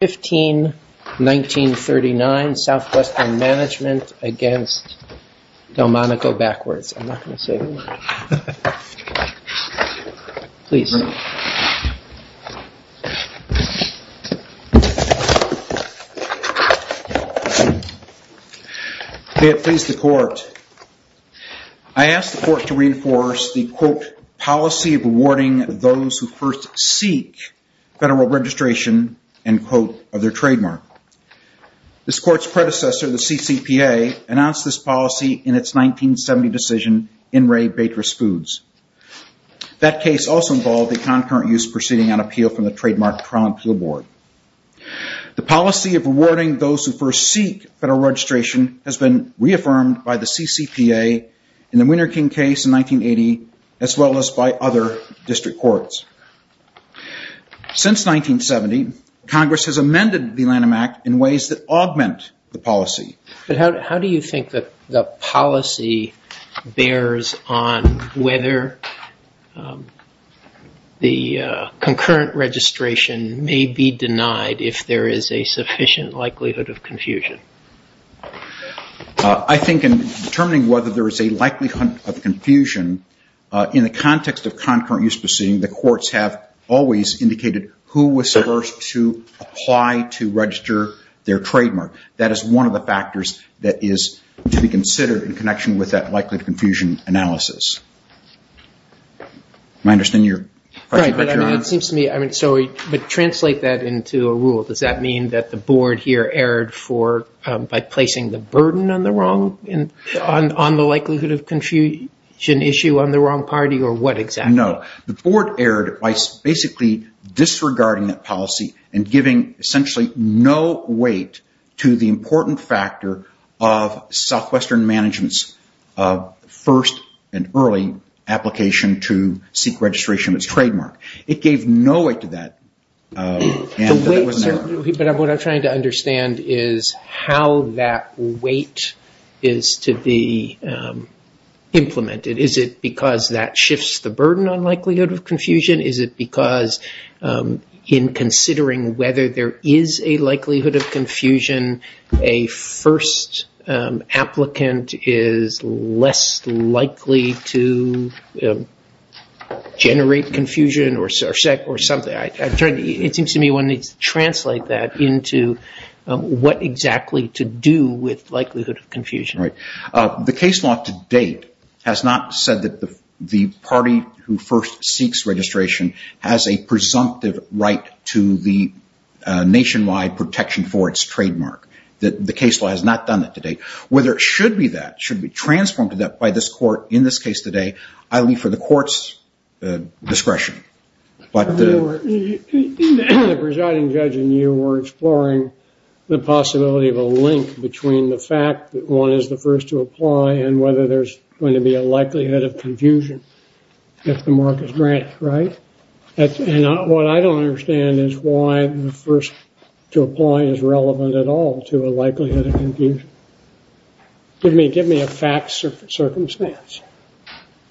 15, 1939, Southwestern Management against Delmonico Backwards. I'm not going to say the word. Please. May it please the Court. I ask the Court to reinforce the, quote, policy of rewarding those who first seek federal registration, end quote, of their trademark. This Court's predecessor, the CCPA, announced this policy in its 1970 decision in Ray Batres Foods. That case also involved a concurrent use proceeding on appeal from the Trademark Trial and Appeal Board. The policy of rewarding those who first seek federal registration has been reaffirmed by the CCPA in the Winterking case in 1980, as well as by other district courts. Since 1970, Congress has amended the Lanham Act in ways that augment the policy. But how do you think the policy bears on whether the concurrent registration may be denied if there is a sufficient likelihood of confusion? I think in determining whether there is a likelihood of confusion, in the context of concurrent use proceeding, the courts have always indicated who was supposed to apply to register their trademark. That is one of the factors that is to be considered in connection with that likelihood of confusion analysis. Translate that into a rule. Does that mean that the Board here erred by placing the burden on the likelihood of confusion issue on the wrong party, or what exactly? No. The Board erred by basically disregarding that policy and giving essentially no weight to the important factor of Southwestern management's first and early application to seek registration of its trademark. It gave no weight to that. What I'm trying to understand is how that weight is to be implemented. Is it because that shifts the burden on likelihood of confusion? Is it because in considering whether there is a likelihood of confusion, a first applicant is less likely to generate confusion? It seems to me one needs to translate that into what exactly to do with likelihood of confusion. The case law to date has not said that the party who first seeks registration has a presumptive right to the nationwide protection for its trademark. The case law has not done that to date. Whether it should be that, should it be transformed to that by this court in this case today, I leave for the court's discretion. The presiding judge and you were exploring the possibility of a link between the fact that one is the first to apply and whether there's going to be a likelihood of confusion if the mark is granted, right? What I don't understand is why the first to apply is relevant at all to a likelihood of confusion. Give me a fact circumstance.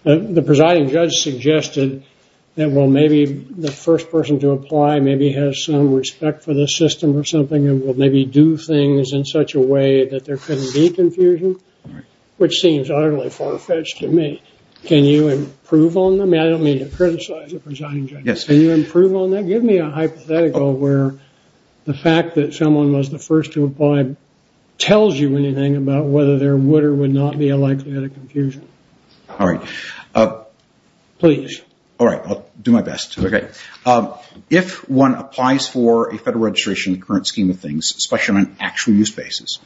The presiding judge suggested that well maybe the first person to apply maybe has some respect for the system or something and will maybe do things in such a way that there couldn't be confusion, which seems utterly far-fetched to me. Can you improve on them? I don't mean to criticize the presiding judge. Can you improve on that? Give me a hypothetical where the fact that someone was the first to apply tells you anything about whether there would or would not be a likelihood of confusion. All right. Please. All right. I'll do my best. If one applies for a federal registration in the current scheme of things, especially on an actual use basis,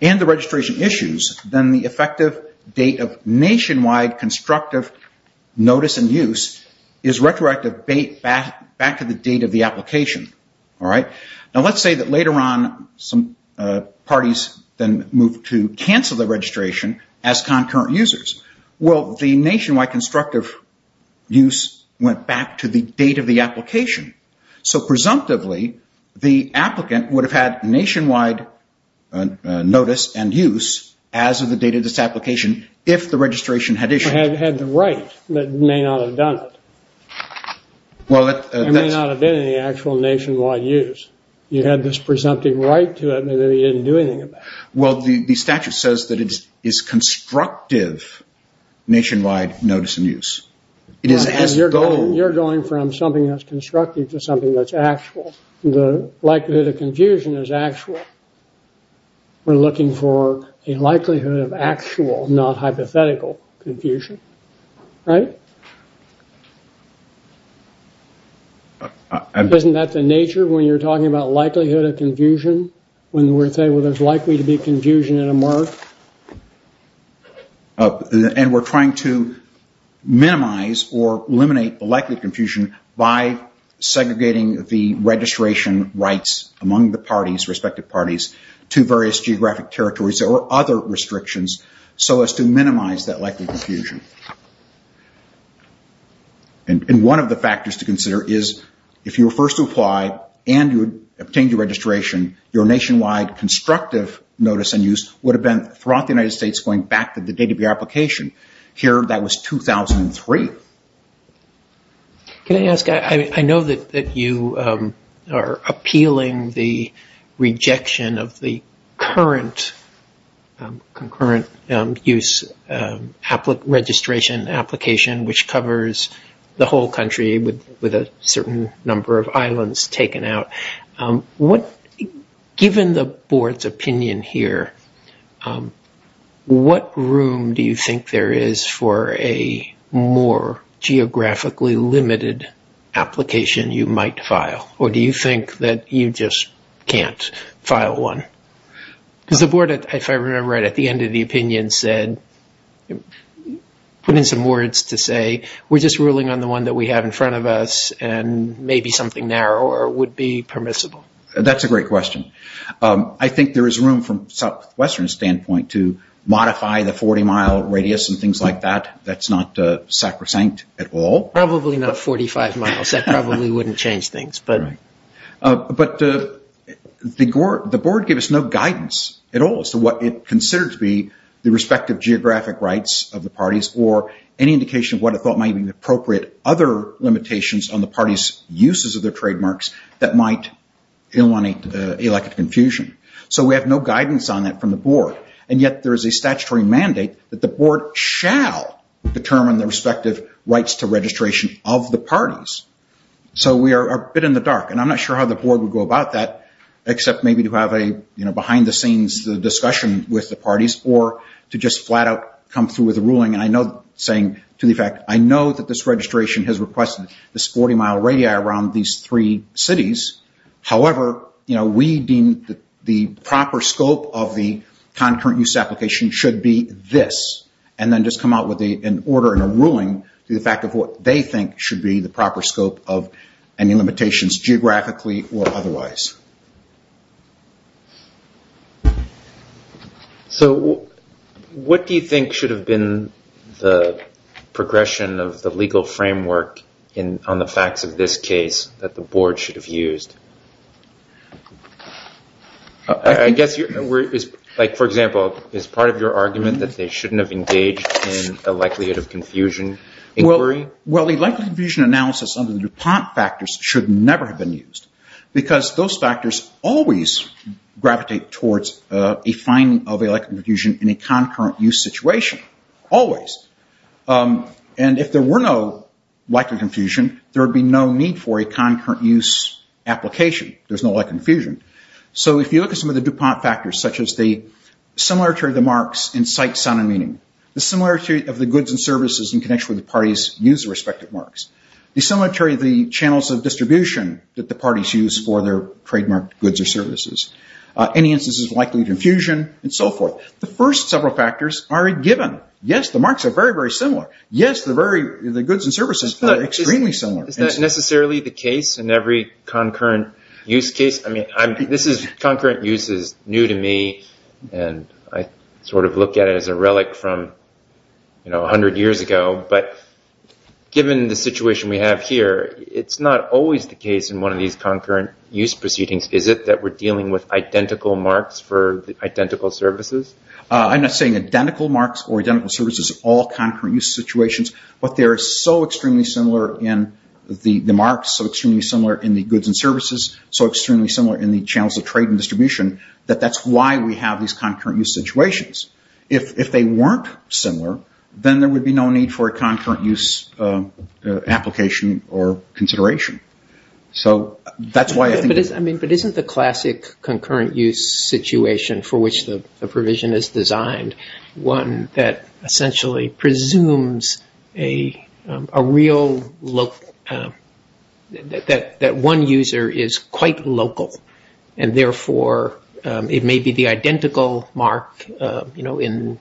and the registration issues, then the effective date of nationwide constructive notice and use is retroactive back to the date of the application. All right? Now let's say that later on some parties then move to cancel the registration as concurrent users. Well, the nationwide constructive use went back to the date of the application. So presumptively, the applicant would have had nationwide notice and use as of the date of this application if the registration had issued. Had the right, but may not have done it. Well, that's… It may not have been in the actual nationwide use. You had this presumptive right to it that you didn't do anything about. Well, the statute says that it is constructive nationwide notice and use. It is as though… You're going from something that's constructive to something that's actual. The likelihood of confusion is actual. We're looking for a likelihood of actual, not hypothetical, confusion. Right? Isn't that the nature when you're talking about likelihood of confusion? When we're saying, well, there's likely to be confusion in a murk? And we're trying to minimize or eliminate the likelihood of confusion by segregating the registration rights among the parties, respective parties, to various geographic territories or other restrictions so as to minimize that likelihood of confusion. And one of the factors to consider is if you were first to apply and you obtained your registration, your nationwide constructive notice and use would have been throughout the United States going back to the date of your application. Here, that was 2003. Can I ask? I know that you are appealing the rejection of the current use registration application, which covers the whole country with a certain number of islands taken out. Given the board's opinion here, what room do you think there is for a more geographically limited application you might file? Or do you think that you just can't file one? Because the board, if I remember right, at the end of the opinion said, put in some words to say, we're just ruling on the one that we have in front of us and maybe something narrower would be permissible. That's a great question. I think there is room from a southwestern standpoint to modify the 40-mile radius and things like that. That's not sacrosanct at all. Probably not 45 miles. That probably wouldn't change things. But the board gave us no guidance at all as to what it considered to be the respective geographic rights of the parties or any indication of what it thought might be appropriate other limitations on the parties' uses of their trademarks that might elicit confusion. So we have no guidance on that from the board. And yet there is a statutory mandate that the board shall determine the respective rights to registration of the parties. So we are a bit in the dark. And I'm not sure how the board would go about that except maybe to have a behind-the-scenes discussion with the parties or to just flat-out come through with a ruling saying, to the effect, I know that this registration has requested this 40-mile radius around these three cities. However, we deem the proper scope of the concurrent use application should be this. And then just come out with an order and a ruling to the effect of what they think should be the proper scope of any limitations geographically or otherwise. So what do you think should have been the progression of the legal framework on the facts of this case that the board should have used? I guess, for example, is part of your argument that they shouldn't have engaged in the likelihood of confusion inquiry? Well, the likelihood of confusion analysis under the DuPont factors should never have been used. Because those factors always gravitate towards a finding of a likelihood of confusion in a concurrent use situation. Always. And if there were no likelihood of confusion, there would be no need for a concurrent use application. There's no likelihood of confusion. So if you look at some of the DuPont factors, such as the similarity of the marks in sight, sound, and meaning, the similarity of the goods and services in connection with the parties' use of the respective marks, the similarity of the channels of distribution that the parties use for their trademarked goods or services, any instances of likelihood of confusion, and so forth. The first several factors are a given. Yes, the marks are very, very similar. Yes, the goods and services are extremely similar. Is that necessarily the case in every concurrent use case? I mean, this is concurrent use is new to me, and I sort of look at it as a relic from 100 years ago. But given the situation we have here, it's not always the case in one of these concurrent use proceedings. Is it that we're dealing with identical marks for identical services? I'm not saying identical marks for identical services in all concurrent use situations, but they are so extremely similar in the marks, so extremely similar in the goods and services, so extremely similar in the channels of trade and distribution, that that's why we have these concurrent use situations. If they weren't similar, then there would be no need for a concurrent use application or consideration. But isn't the classic concurrent use situation for which the provision is designed one that essentially presumes that one user is quite local, and therefore it may be the identical mark in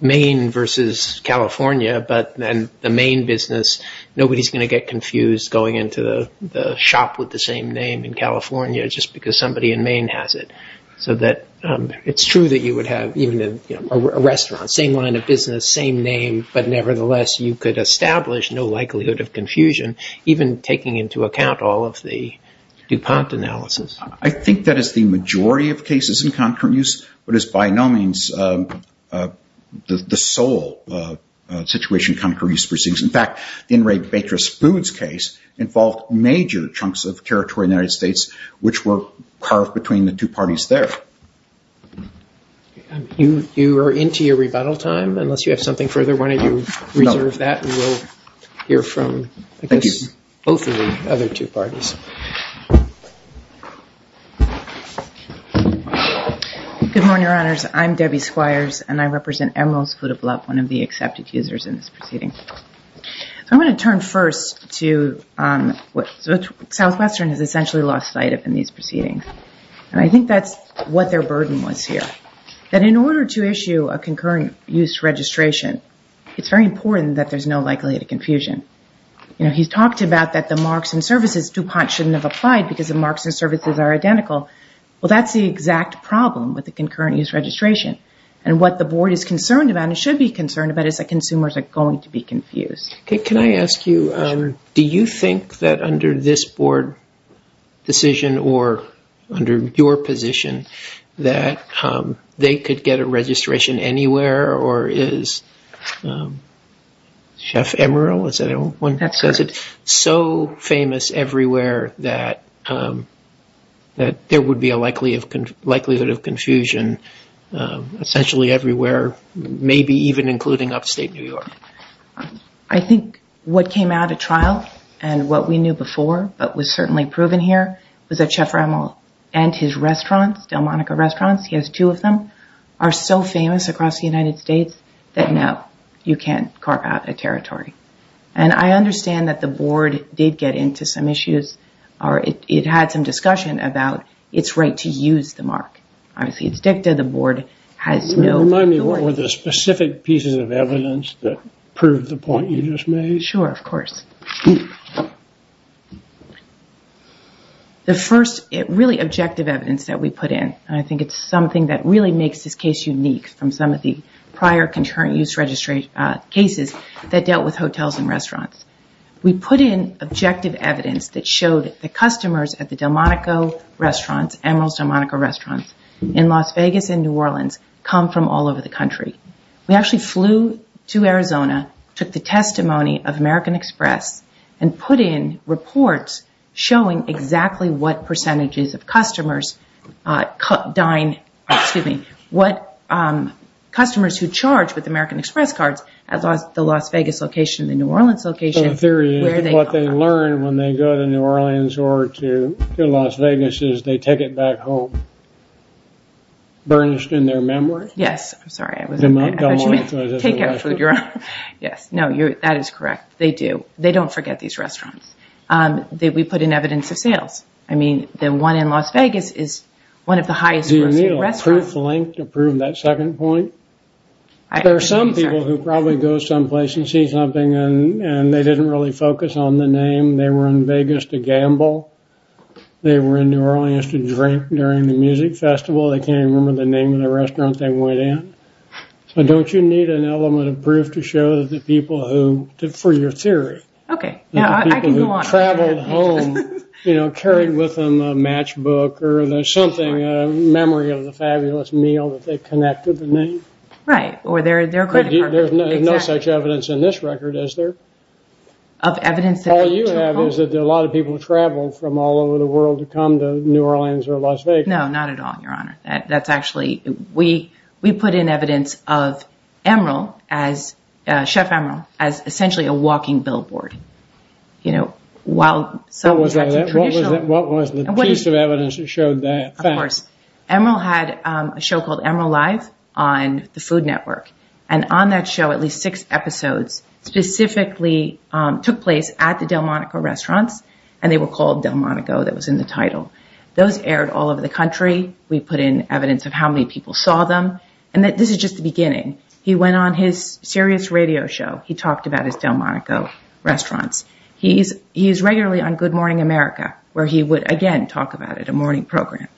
Maine versus California, but then the Maine business, nobody's going to get confused going into the shop with the same name in California just because somebody in Maine has it. So it's true that you would have a restaurant, same line of business, same name, but nevertheless you could establish no likelihood of confusion, even taking into account all of the DuPont analysis. I think that is the majority of cases in concurrent use, but it's by no means the sole situation in concurrent use proceedings. In fact, the In Re Batres Foods case involved major chunks of territory in the United States which were carved between the two parties there. You are into your rebuttal time, unless you have something further. We will hear from both of the other two parties. Good morning, Your Honors. I'm Debbie Squires, and I represent Emerald's Food of Love, one of the accepted users in this proceeding. I'm going to turn first to what Southwestern has essentially lost sight of in these proceedings, and I think that's what their burden was here, that in order to issue a concurrent use registration, it's very important that there's no likelihood of confusion. He's talked about that the marks and services DuPont shouldn't have applied because the marks and services are identical. Well, that's the exact problem with the concurrent use registration, and what the board is concerned about and should be concerned about is that consumers are going to be confused. Can I ask you, do you think that under this board decision or under your position that they could get a registration anywhere, or is Chef Emerald so famous everywhere that there would be a likelihood of confusion, essentially everywhere, maybe even including upstate New York? I think what came out of trial and what we knew before, but was certainly proven here, was that Chef Emerald and his restaurants, Delmonica Restaurants, he has two of them, are so famous across the United States that, no, you can't carve out a territory. And I understand that the board did get into some issues, or it had some discussion about its right to use the mark. Obviously, it's dicta. The board has no authority. Remind me, what were the specific pieces of evidence that prove the point you just made? Sure, of course. The first really objective evidence that we put in, and I think it's something that really makes this case unique from some of the prior concurrent use registration cases that dealt with hotels and restaurants. We put in objective evidence that showed that the customers at the Delmonica Restaurants, Emerald's Delmonica Restaurants, in Las Vegas and New Orleans, come from all over the country. We actually flew to Arizona, took the testimony of American Express, and put in reports showing exactly what percentages of customers dine, excuse me, what customers who charge with American Express cards at the Las Vegas location and the New Orleans location. So the theory is what they learn when they go to New Orleans or to Las Vegas is they take it back home, burnished in their memory? Yes, I'm sorry. I thought you meant take out food. Yes, no, that is correct. They do. They don't forget these restaurants. We put in evidence of sales. I mean, the one in Las Vegas is one of the highest grossing restaurants. Do you need a proof link to prove that second point? There are some people who probably go someplace and see something and they didn't really focus on the name. They were in Vegas to gamble. They were in New Orleans to drink during the music festival. They can't even remember the name of the restaurant they went in. So don't you need an element of proof to show that the people who, for your theory, the people who traveled home, you know, carried with them a matchbook or something, a memory of the fabulous meal that they connected the name? Right, or their credit card. There's no such evidence in this record, is there? All you have is that a lot of people traveled from all over the world to come to New Orleans or Las Vegas. No, not at all, Your Honor. We put in evidence of Chef Emeril as essentially a walking billboard. What was the piece of evidence that showed that? Of course. Emeril had a show called Emeril Live on the Food Network, and on that show at least six episodes specifically took place at the Delmonico restaurants, and they were called Delmonico. That was in the title. Those aired all over the country. We put in evidence of how many people saw them, and this is just the beginning. He went on his Sirius radio show. He talked about his Delmonico restaurants. He is regularly on Good Morning America, where he would, again, talk about it, a morning program.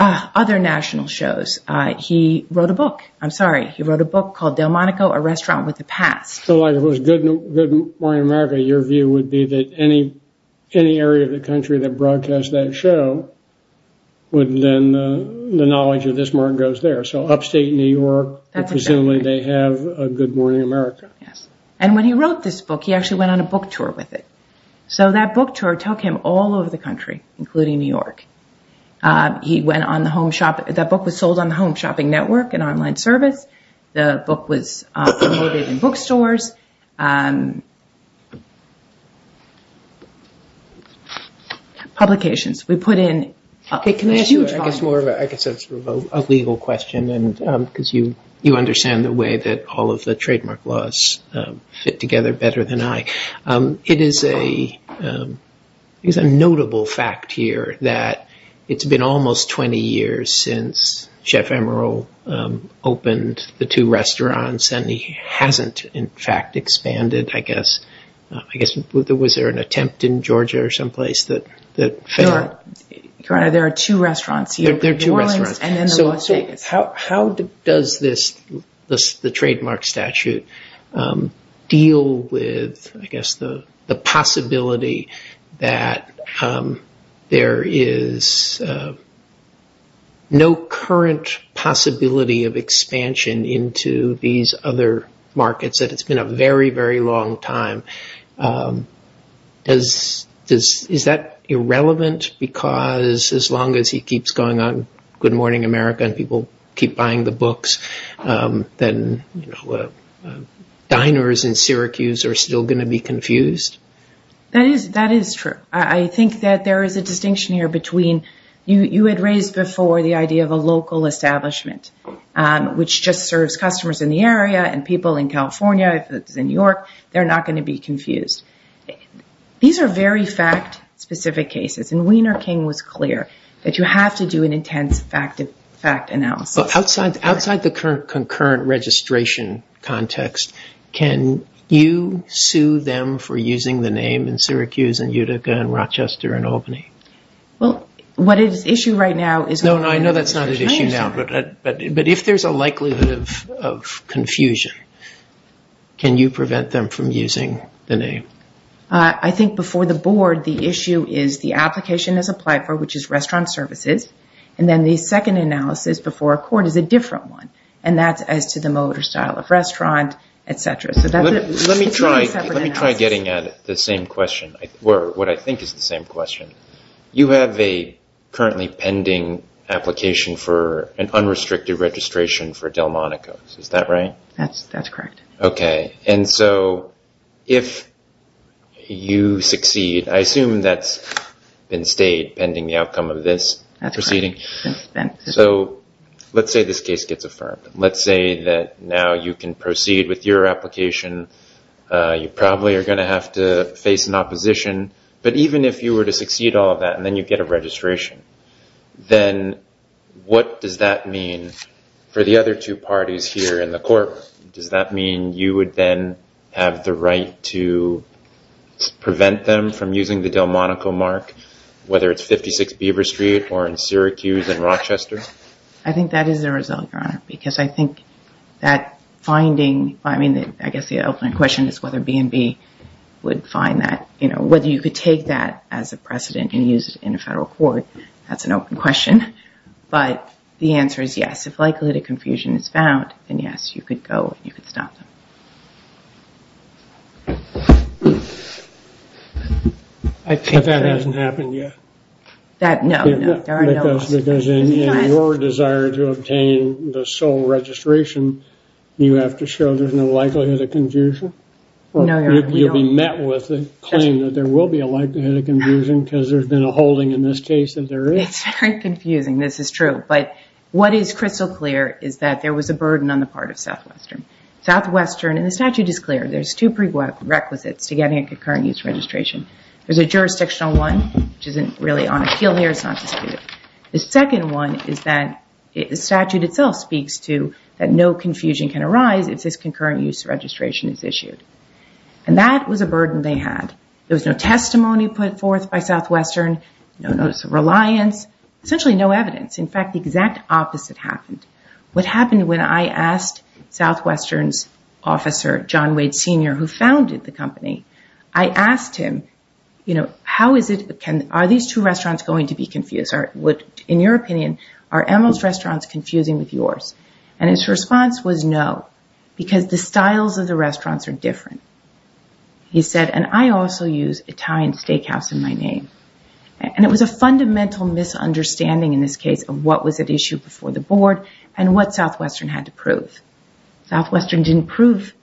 Other national shows, he wrote a book. I'm sorry, he wrote a book called Delmonico, a Restaurant with a Past. So if it was Good Morning America, your view would be that any area of the country that broadcasts that show would then, the knowledge of this mark goes there. So upstate New York, presumably they have a Good Morning America. Yes, and when he wrote this book, he actually went on a book tour with it. So that book tour took him all over the country, including New York. He went on the Home Shopping. That book was sold on the Home Shopping Network, an online service. The book was promoted in bookstores. Publications. We put in a huge volume. I guess that's more of a legal question because you understand the way that all of the trademark laws fit together better than I. It is a notable fact here that it's been almost 20 years since Chef Emeril opened the two restaurants and he hasn't, in fact, expanded, I guess. I guess, was there an attempt in Georgia or someplace that failed? No, there are two restaurants here. There are two restaurants. New Orleans and then Las Vegas. the possibility that there is no current possibility of expansion into these other markets, that it's been a very, very long time. Is that irrelevant because as long as he keeps going on Good Morning America and people keep buying the books, diners in Syracuse are still going to be confused? That is true. I think that there is a distinction here between you had raised before the idea of a local establishment, which just serves customers in the area and people in California. If it's in New York, they're not going to be confused. These are very fact-specific cases. Wiener King was clear that you have to do an intense fact analysis. Outside the concurrent registration context, can you sue them for using the name in Syracuse and Utica and Rochester and Albany? What is at issue right now is- No, I know that's not at issue now, but if there's a likelihood of confusion, can you prevent them from using the name? I think before the board, the issue is the application is applied for, which is restaurant services, and then the second analysis before a court is a different one, and that's as to the mode or style of restaurant, et cetera. Let me try getting at the same question, or what I think is the same question. You have a currently pending application for an unrestricted registration for Delmonico's. Is that right? That's correct. Okay. If you succeed, I assume that's been stayed pending the outcome of this proceeding. That's correct. Let's say this case gets affirmed. Let's say that now you can proceed with your application. You probably are going to have to face an opposition, but even if you were to succeed all of that and then you get a registration, then what does that mean for the other two parties here in the court? Does that mean you would then have the right to prevent them from using the Delmonico mark, whether it's 56 Beaver Street or in Syracuse and Rochester? I think that is the result, Your Honor, because I think that finding, I mean, I guess the open question is whether B&B would find that, you know, whether you could take that as a precedent and use it in a federal court. That's an open question, but the answer is yes. If likelihood of confusion is found, then yes, you could go and you could stop them. But that hasn't happened yet. No, no. Because in your desire to obtain the sole registration, you have to show there's no likelihood of confusion? No, Your Honor. You'll be met with a claim that there will be a likelihood of confusion because there's been a holding in this case that there is. It's very confusing. This is true. But what is crystal clear is that there was a burden on the part of Southwestern. Southwestern, and the statute is clear, there's two prerequisites to getting a concurrent use registration. There's a jurisdictional one, which isn't really on a keel here. It's not disputed. The second one is that the statute itself speaks to that no confusion can arise if this concurrent use registration is issued. And that was a burden they had. There was no testimony put forth by Southwestern, no notice of reliance, essentially no evidence. In fact, the exact opposite happened. What happened when I asked Southwestern's officer, John Wade, Sr., who founded the company, I asked him, you know, how is it, are these two restaurants going to be confused? In your opinion, are Emerald's restaurants confusing with yours? And his response was no, because the styles of the restaurants are different. He said, and I also use Italian Steakhouse in my name. And it was a fundamental misunderstanding in this case of what was at issue before the board and what Southwestern had to prove. Southwestern didn't prove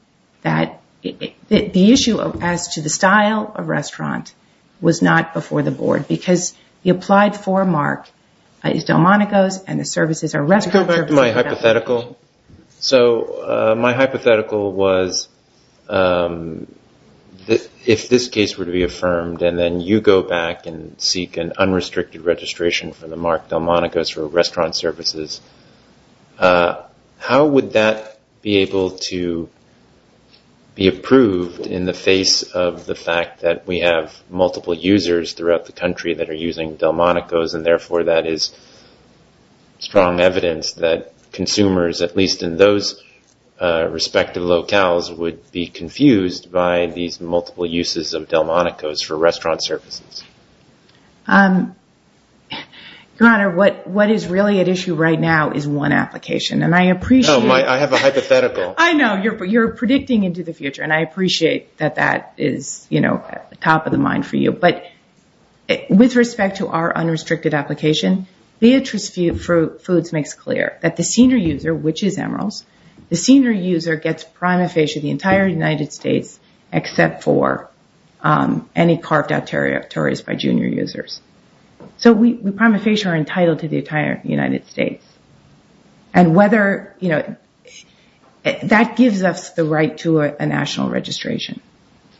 that the issue as to the style of restaurant was not before the board because he applied for a mark, Delmonico's, and the services are restaurants. Let's go back to my hypothetical. So my hypothetical was if this case were to be affirmed and then you go back and seek an unrestricted registration for the mark, Delmonico's, for restaurant services, how would that be able to be approved in the face of the fact that we have multiple users throughout the country that are using Delmonico's and therefore that is strong evidence that consumers, at least in those respective locales, would be confused by these multiple uses of Delmonico's for restaurant services? Your Honor, what is really at issue right now is one application. And I appreciate... I have a hypothetical. I know. You're predicting into the future, and I appreciate that that is, you know, top of the mind for you. But with respect to our unrestricted application, Beatrice Foods makes clear that the senior user, which is Emeril's, the senior user gets prima facie the entire United States except for any carved-out territories by junior users. So we, prima facie, are entitled to the entire United States. And whether, you know, that gives us the right to a national registration.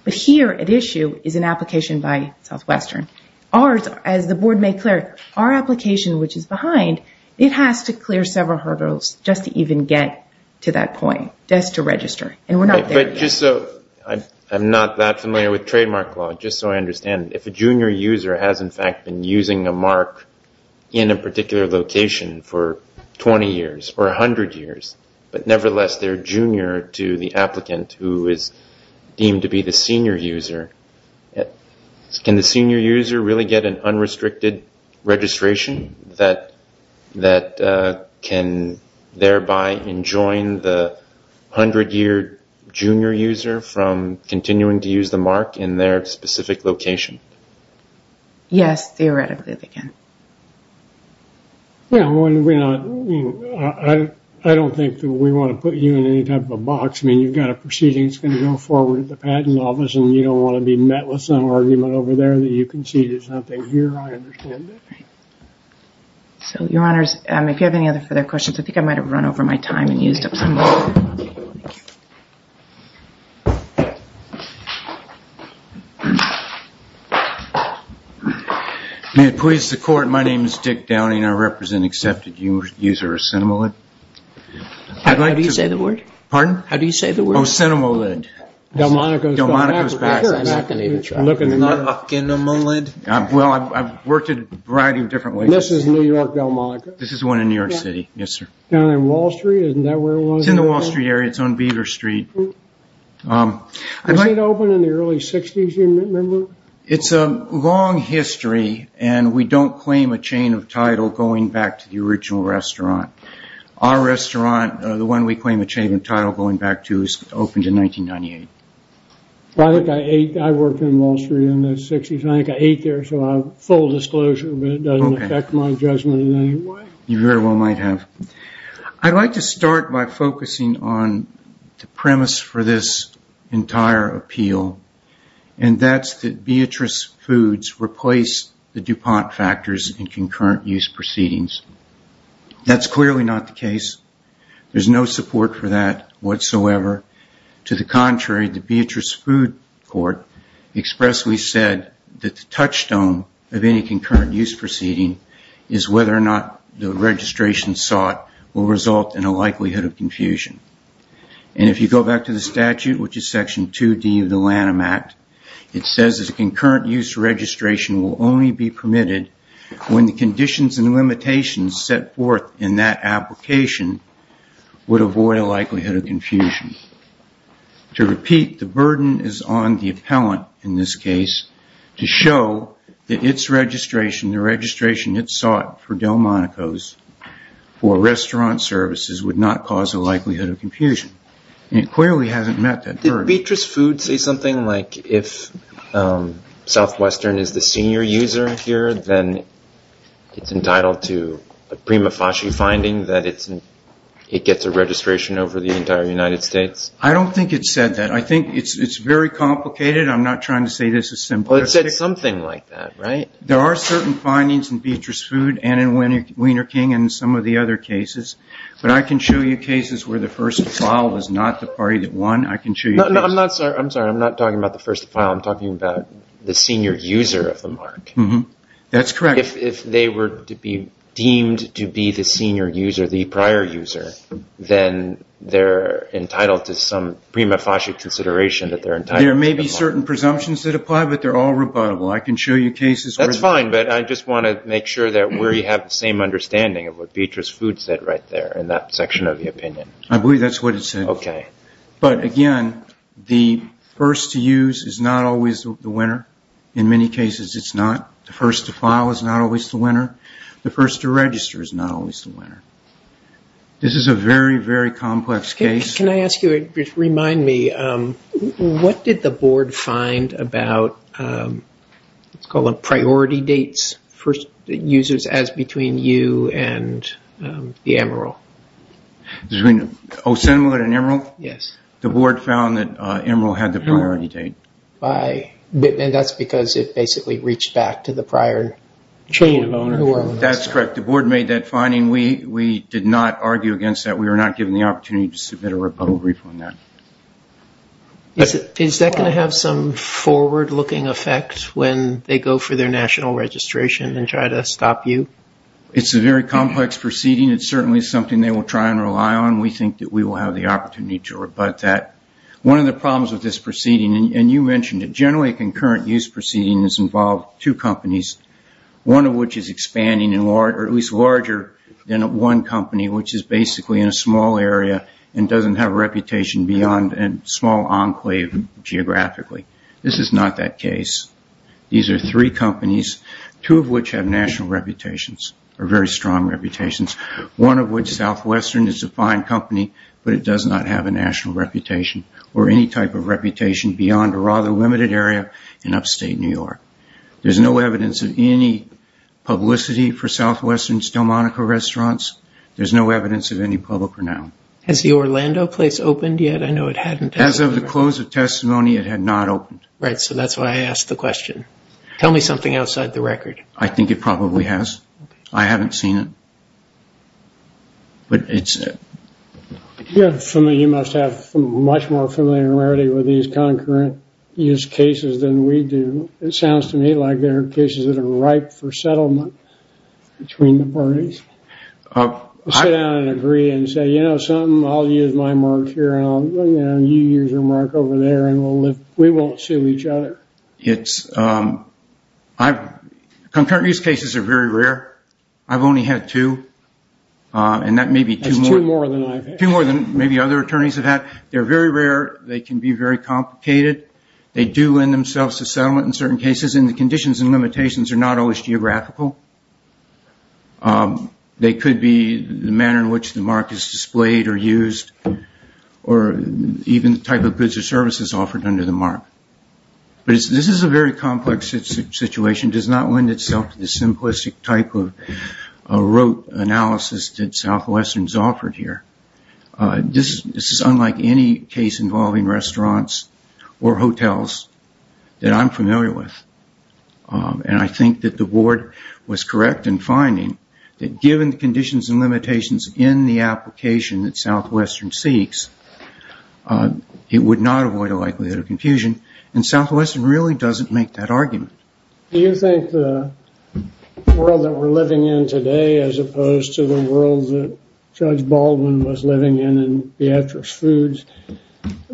But here at issue is an application by Southwestern. Ours, as the Board made clear, our application, which is behind, it has to clear several hurdles just to even get to that point, just to register. And we're not there yet. But just so I'm not that familiar with trademark law, just so I understand, if a junior user has, in fact, been using a mark in a particular location for 20 years or 100 years, but nevertheless they're junior to the applicant who is deemed to be the senior user, can the senior user really get an unrestricted registration that can thereby enjoin the 100-year junior user from continuing to use the mark in their specific location? Yes, theoretically they can. Yeah, I don't think that we want to put you in any type of a box. I mean, you've got a proceeding that's going to go forward at the Patent Office and you don't want to be met with some argument over there that you conceded something here. I understand that. So, Your Honors, if you have any other further questions, I think I might have run over my time and used up some of it. Thank you. May it please the Court, my name is Dick Downing. I represent an accepted user of CinemaLid. How do you say the word? Pardon? How do you say the word? Oh, CinemaLid. Delmonico's back. Delmonico's back. I'm not going to even try. You're not looking at CinemaLid? Well, I've worked in a variety of different places. This is New York Delmonico. This is the one in New York City. Yes, sir. Down on Wall Street, isn't that where it was? It's in the Wall Street area. It's on Beaver Street. Was it open in the early 60s? Do you remember? It's a long history and we don't claim a chain of title going back to the original restaurant. Our restaurant, the one we claim a chain of title going back to, was opened in 1998. I worked on Wall Street in the 60s. I think I ate there, so full disclosure, but it doesn't affect my judgment in any way. You very well might have. I'd like to start by focusing on the premise for this entire appeal, and that's that Beatrice Foods replaced the DuPont factors in concurrent use proceedings. That's clearly not the case. There's no support for that whatsoever. To the contrary, the Beatrice Food Court expressly said that the touchstone of any concurrent use proceeding is whether or not the registration sought will result in a likelihood of confusion. If you go back to the statute, which is section 2D of the Lanham Act, it says that a concurrent use registration will only be permitted when the conditions and limitations set forth in that application would avoid a likelihood of confusion. To repeat, the burden is on the appellant in this case to show that its registration, the registration it sought for Delmonico's for restaurant services, would not cause a likelihood of confusion. It clearly hasn't met that burden. Did Beatrice Foods say something like if Southwestern is the senior user here, then it's entitled to a prima facie finding that it gets a registration over the entire United States? I don't think it said that. I think it's very complicated. I'm not trying to say this is simplistic. Well, it said something like that, right? There are certain findings in Beatrice Food and in Wiener King and some of the other cases, but I can show you cases where the first file was not the party that won. I can show you cases. No, I'm not sorry. I'm sorry. I'm not talking about the first file. I'm talking about the senior user of the mark. That's correct. If they were to be deemed to be the senior user, the prior user, then they're entitled to some prima facie consideration that they're entitled to the mark. There may be certain presumptions that apply, but they're all rebuttable. I can show you cases. That's fine, but I just want to make sure that we have the same understanding of what Beatrice Foods said right there in that section of the opinion. I believe that's what it said. Okay. But again, the first to use is not always the winner. In many cases, it's not. The first to file is not always the winner. The first to register is not always the winner. This is a very, very complex case. Can I ask you to remind me, what did the board find about what's called priority dates for users as between you and the Emeril? Oh, similar to Emeril? Yes. The board found that Emeril had the priority date. That's because it basically reached back to the prior chain. That's correct. The board made that finding. We did not argue against that. We were not given the opportunity to submit a rebuttal brief on that. Is that going to have some forward-looking effect when they go for their national registration and try to stop you? It's a very complex proceeding. It's certainly something they will try and rely on. We think that we will have the opportunity to rebut that. One of the problems with this proceeding, and you mentioned it, generally concurrent use proceedings involve two companies, one of which is expanding or at least larger than one company, which is basically in a small area and doesn't have a reputation beyond a small enclave geographically. This is not that case. These are three companies, two of which have national reputations or very strong reputations, one of which, Southwestern, is a fine company, but it does not have a national reputation or any type of reputation beyond a rather limited area in upstate New York. There's no evidence of any publicity for Southwestern's Delmonico restaurants. There's no evidence of any public renown. Has the Orlando place opened yet? I know it hadn't. As of the close of testimony, it had not opened. Right, so that's why I asked the question. Tell me something outside the record. I think it probably has. I haven't seen it. You must have much more familiarity with these concurrent use cases than we do. It sounds to me like there are cases that are ripe for settlement between the parties. Sit down and agree and say, you know something, I'll use my mark here and you use your mark over there and we won't sue each other. Concurrent use cases are very rare. I've only had two and that may be two more. That's two more than I've had. Two more than maybe other attorneys have had. They're very rare. They can be very complicated. They do lend themselves to settlement in certain cases and the conditions and limitations are not always geographical. They could be the manner in which the mark is displayed or used or even the type of goods or services offered under the mark. But this is a very complex situation. It does not lend itself to the simplistic type of rote analysis that Southwestern has offered here. This is unlike any case involving restaurants or hotels that I'm familiar with. And I think that the board was correct in finding that given the conditions and limitations in the application that Southwestern seeks, it would not avoid a likelihood of confusion. And Southwestern really doesn't make that argument. Do you think the world that we're living in today, as opposed to the world that Judge Baldwin was living in in Beatrice Foods,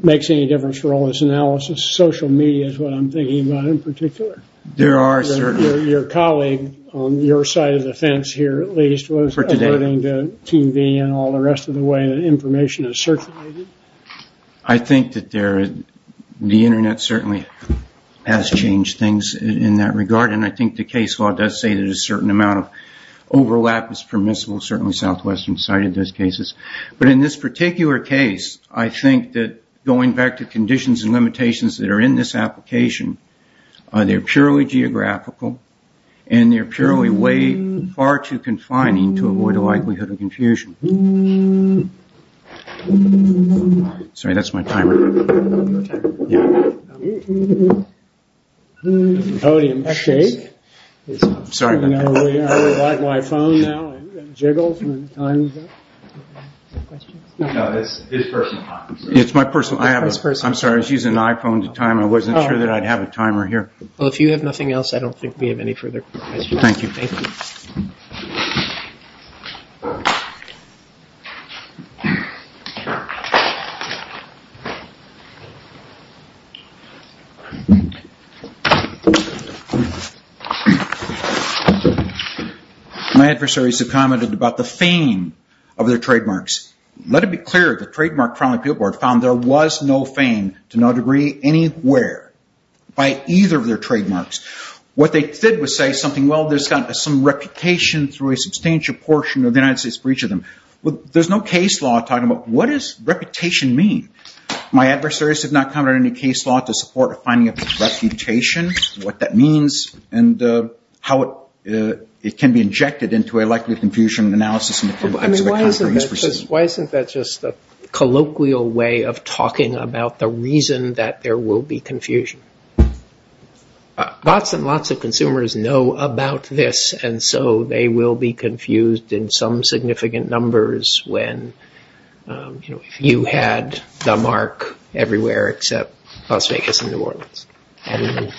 makes any difference for all this analysis? Social media is what I'm thinking about in particular. Your colleague, on your side of the fence here at least, was alerting to TV and all the rest of the way that information is circulated. I think that the Internet certainly has changed things in that regard and I think the case law does say that a certain amount of overlap is permissible, certainly Southwestern cited those cases. But in this particular case, I think that going back to conditions and limitations that are in this application, they're purely geographical and they're purely way far too confining to avoid a likelihood of confusion. Sorry, that's my timer. It's my personal timer. I'm sorry, I was using an iPhone at the time. I wasn't sure that I'd have a timer here. Well, if you have nothing else, I don't think we have any further questions. Thank you. My adversaries have commented about the fame of their trademarks. Let it be clear, the Trademark Criminal Appeal Board found there was no fame to no degree anywhere by either of their trademarks. What they did was say something, well, there's got some reputation through a substantial portion of the United States for each of them. There's no case law talking about what does reputation mean? My adversaries have not commented on any case law to support a finding of reputation, what that means, and how it can be injected into a likelihood of confusion analysis. Why isn't that just a colloquial way of talking about the reason that there will be confusion? Lots and lots of consumers know about this and so they will be confused in some significant numbers when you had the mark everywhere except Las Vegas and New Orleans and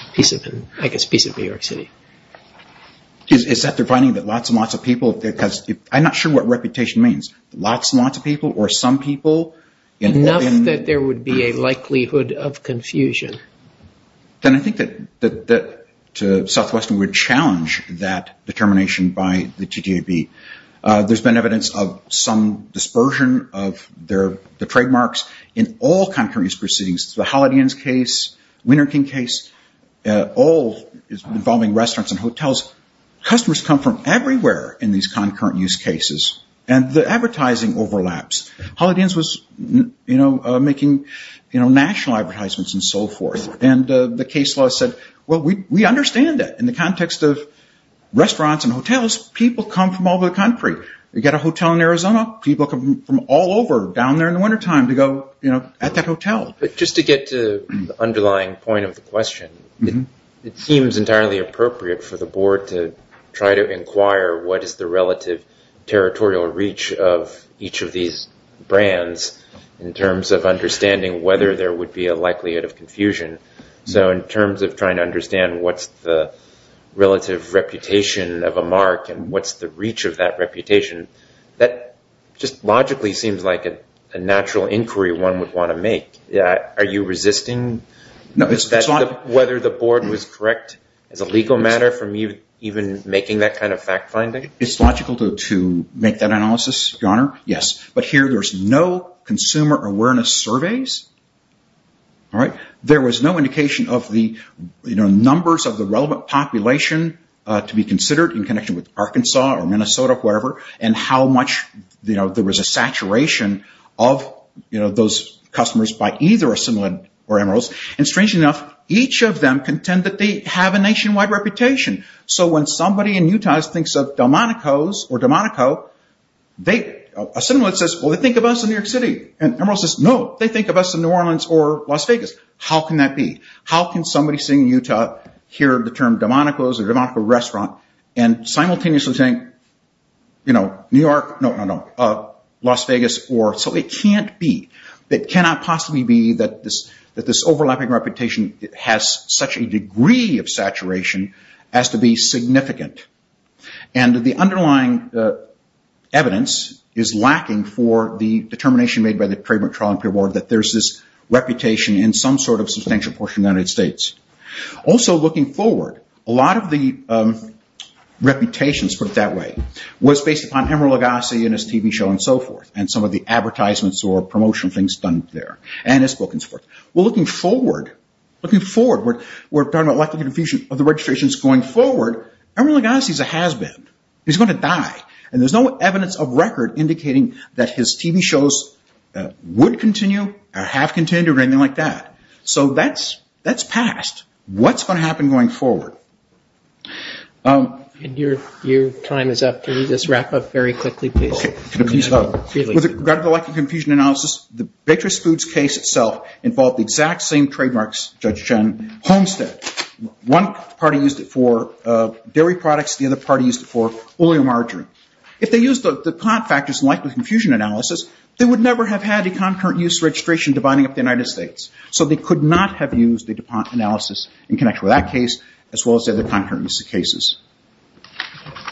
I guess a piece of New York City. Is that defining that lots and lots of people, because I'm not sure what reputation means, lots and lots of people or some people? Enough that there would be a likelihood of confusion. Then I think that Southwestern would challenge that determination by the TTAB. There's been evidence of some dispersion of the trademarks in all concurrent use proceedings, the Holiday Inn case, Winter King case, all involving restaurants and hotels. Customers come from everywhere in these concurrent use cases and the advertising overlaps. Holiday Inn was making national advertisements and so forth. The case law said, well, we understand that in the context of restaurants and hotels, people come from all over the country. You get a hotel in Arizona, people come from all over down there in the wintertime to go at that hotel. Just to get to the underlying point of the question, it seems entirely appropriate for the board to try to inquire what is the relative territorial reach of each of these brands in terms of understanding whether there would be a likelihood of confusion. So in terms of trying to understand what's the relative reputation of a mark and what's the reach of that reputation, that just logically seems like a natural inquiry one would want to make. Are you resisting whether the board was correct as a legal matter from even making that kind of fact finding? It's logical to make that analysis, Your Honor. Yes. But here there's no consumer awareness surveys. There was no indication of the numbers of the relevant population to be considered in connection with Arkansas or Minnesota or wherever and how much there was a saturation of those customers by either a similar or emeralds. And strangely enough, each of them contend that they have a nationwide reputation. So when somebody in Utah thinks of Delmonico's or Delmonico, a similar says, well, they think of us in New York City. Emerald says, no, they think of us in New Orleans or Las Vegas. How can that be? How can somebody sitting in Utah hear the term Delmonico's or Delmonico restaurant and simultaneously think New York, no, no, no, Las Vegas. So it can't be. It cannot possibly be that this overlapping reputation has such a degree of saturation as to be significant. And the underlying evidence is lacking for the determination made by the trademark trial and peer board that there's this reputation in some sort of substantial portion of the United States. Also looking forward, a lot of the reputations put it that way, was based upon Emerald Legassi and his TV show and so forth and some of the advertisements or promotional things done there and his book and so forth. Well, looking forward, we're talking about likely confusion of the registrations going forward, Emerald Legassi is a has-been. He's going to die. And there's no evidence of record indicating that his TV shows would continue or have continued or anything like that. So that's past. What's going to happen going forward? And your time is up. Can you just wrap up very quickly, please? With regard to the likely confusion analysis, the Bakery Foods case itself involved the exact same trademarks, Judge Chen, Homestead. One party used it for dairy products. The other party used it for oil and margarine. If they used the plant factors likely confusion analysis, they would never have had a concurrent use registration dividing up the United States. So they could not have used the analysis in connection with that case as well as the other concurrent cases.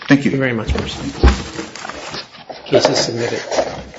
Thank you. Thank you very much. Case is submitted.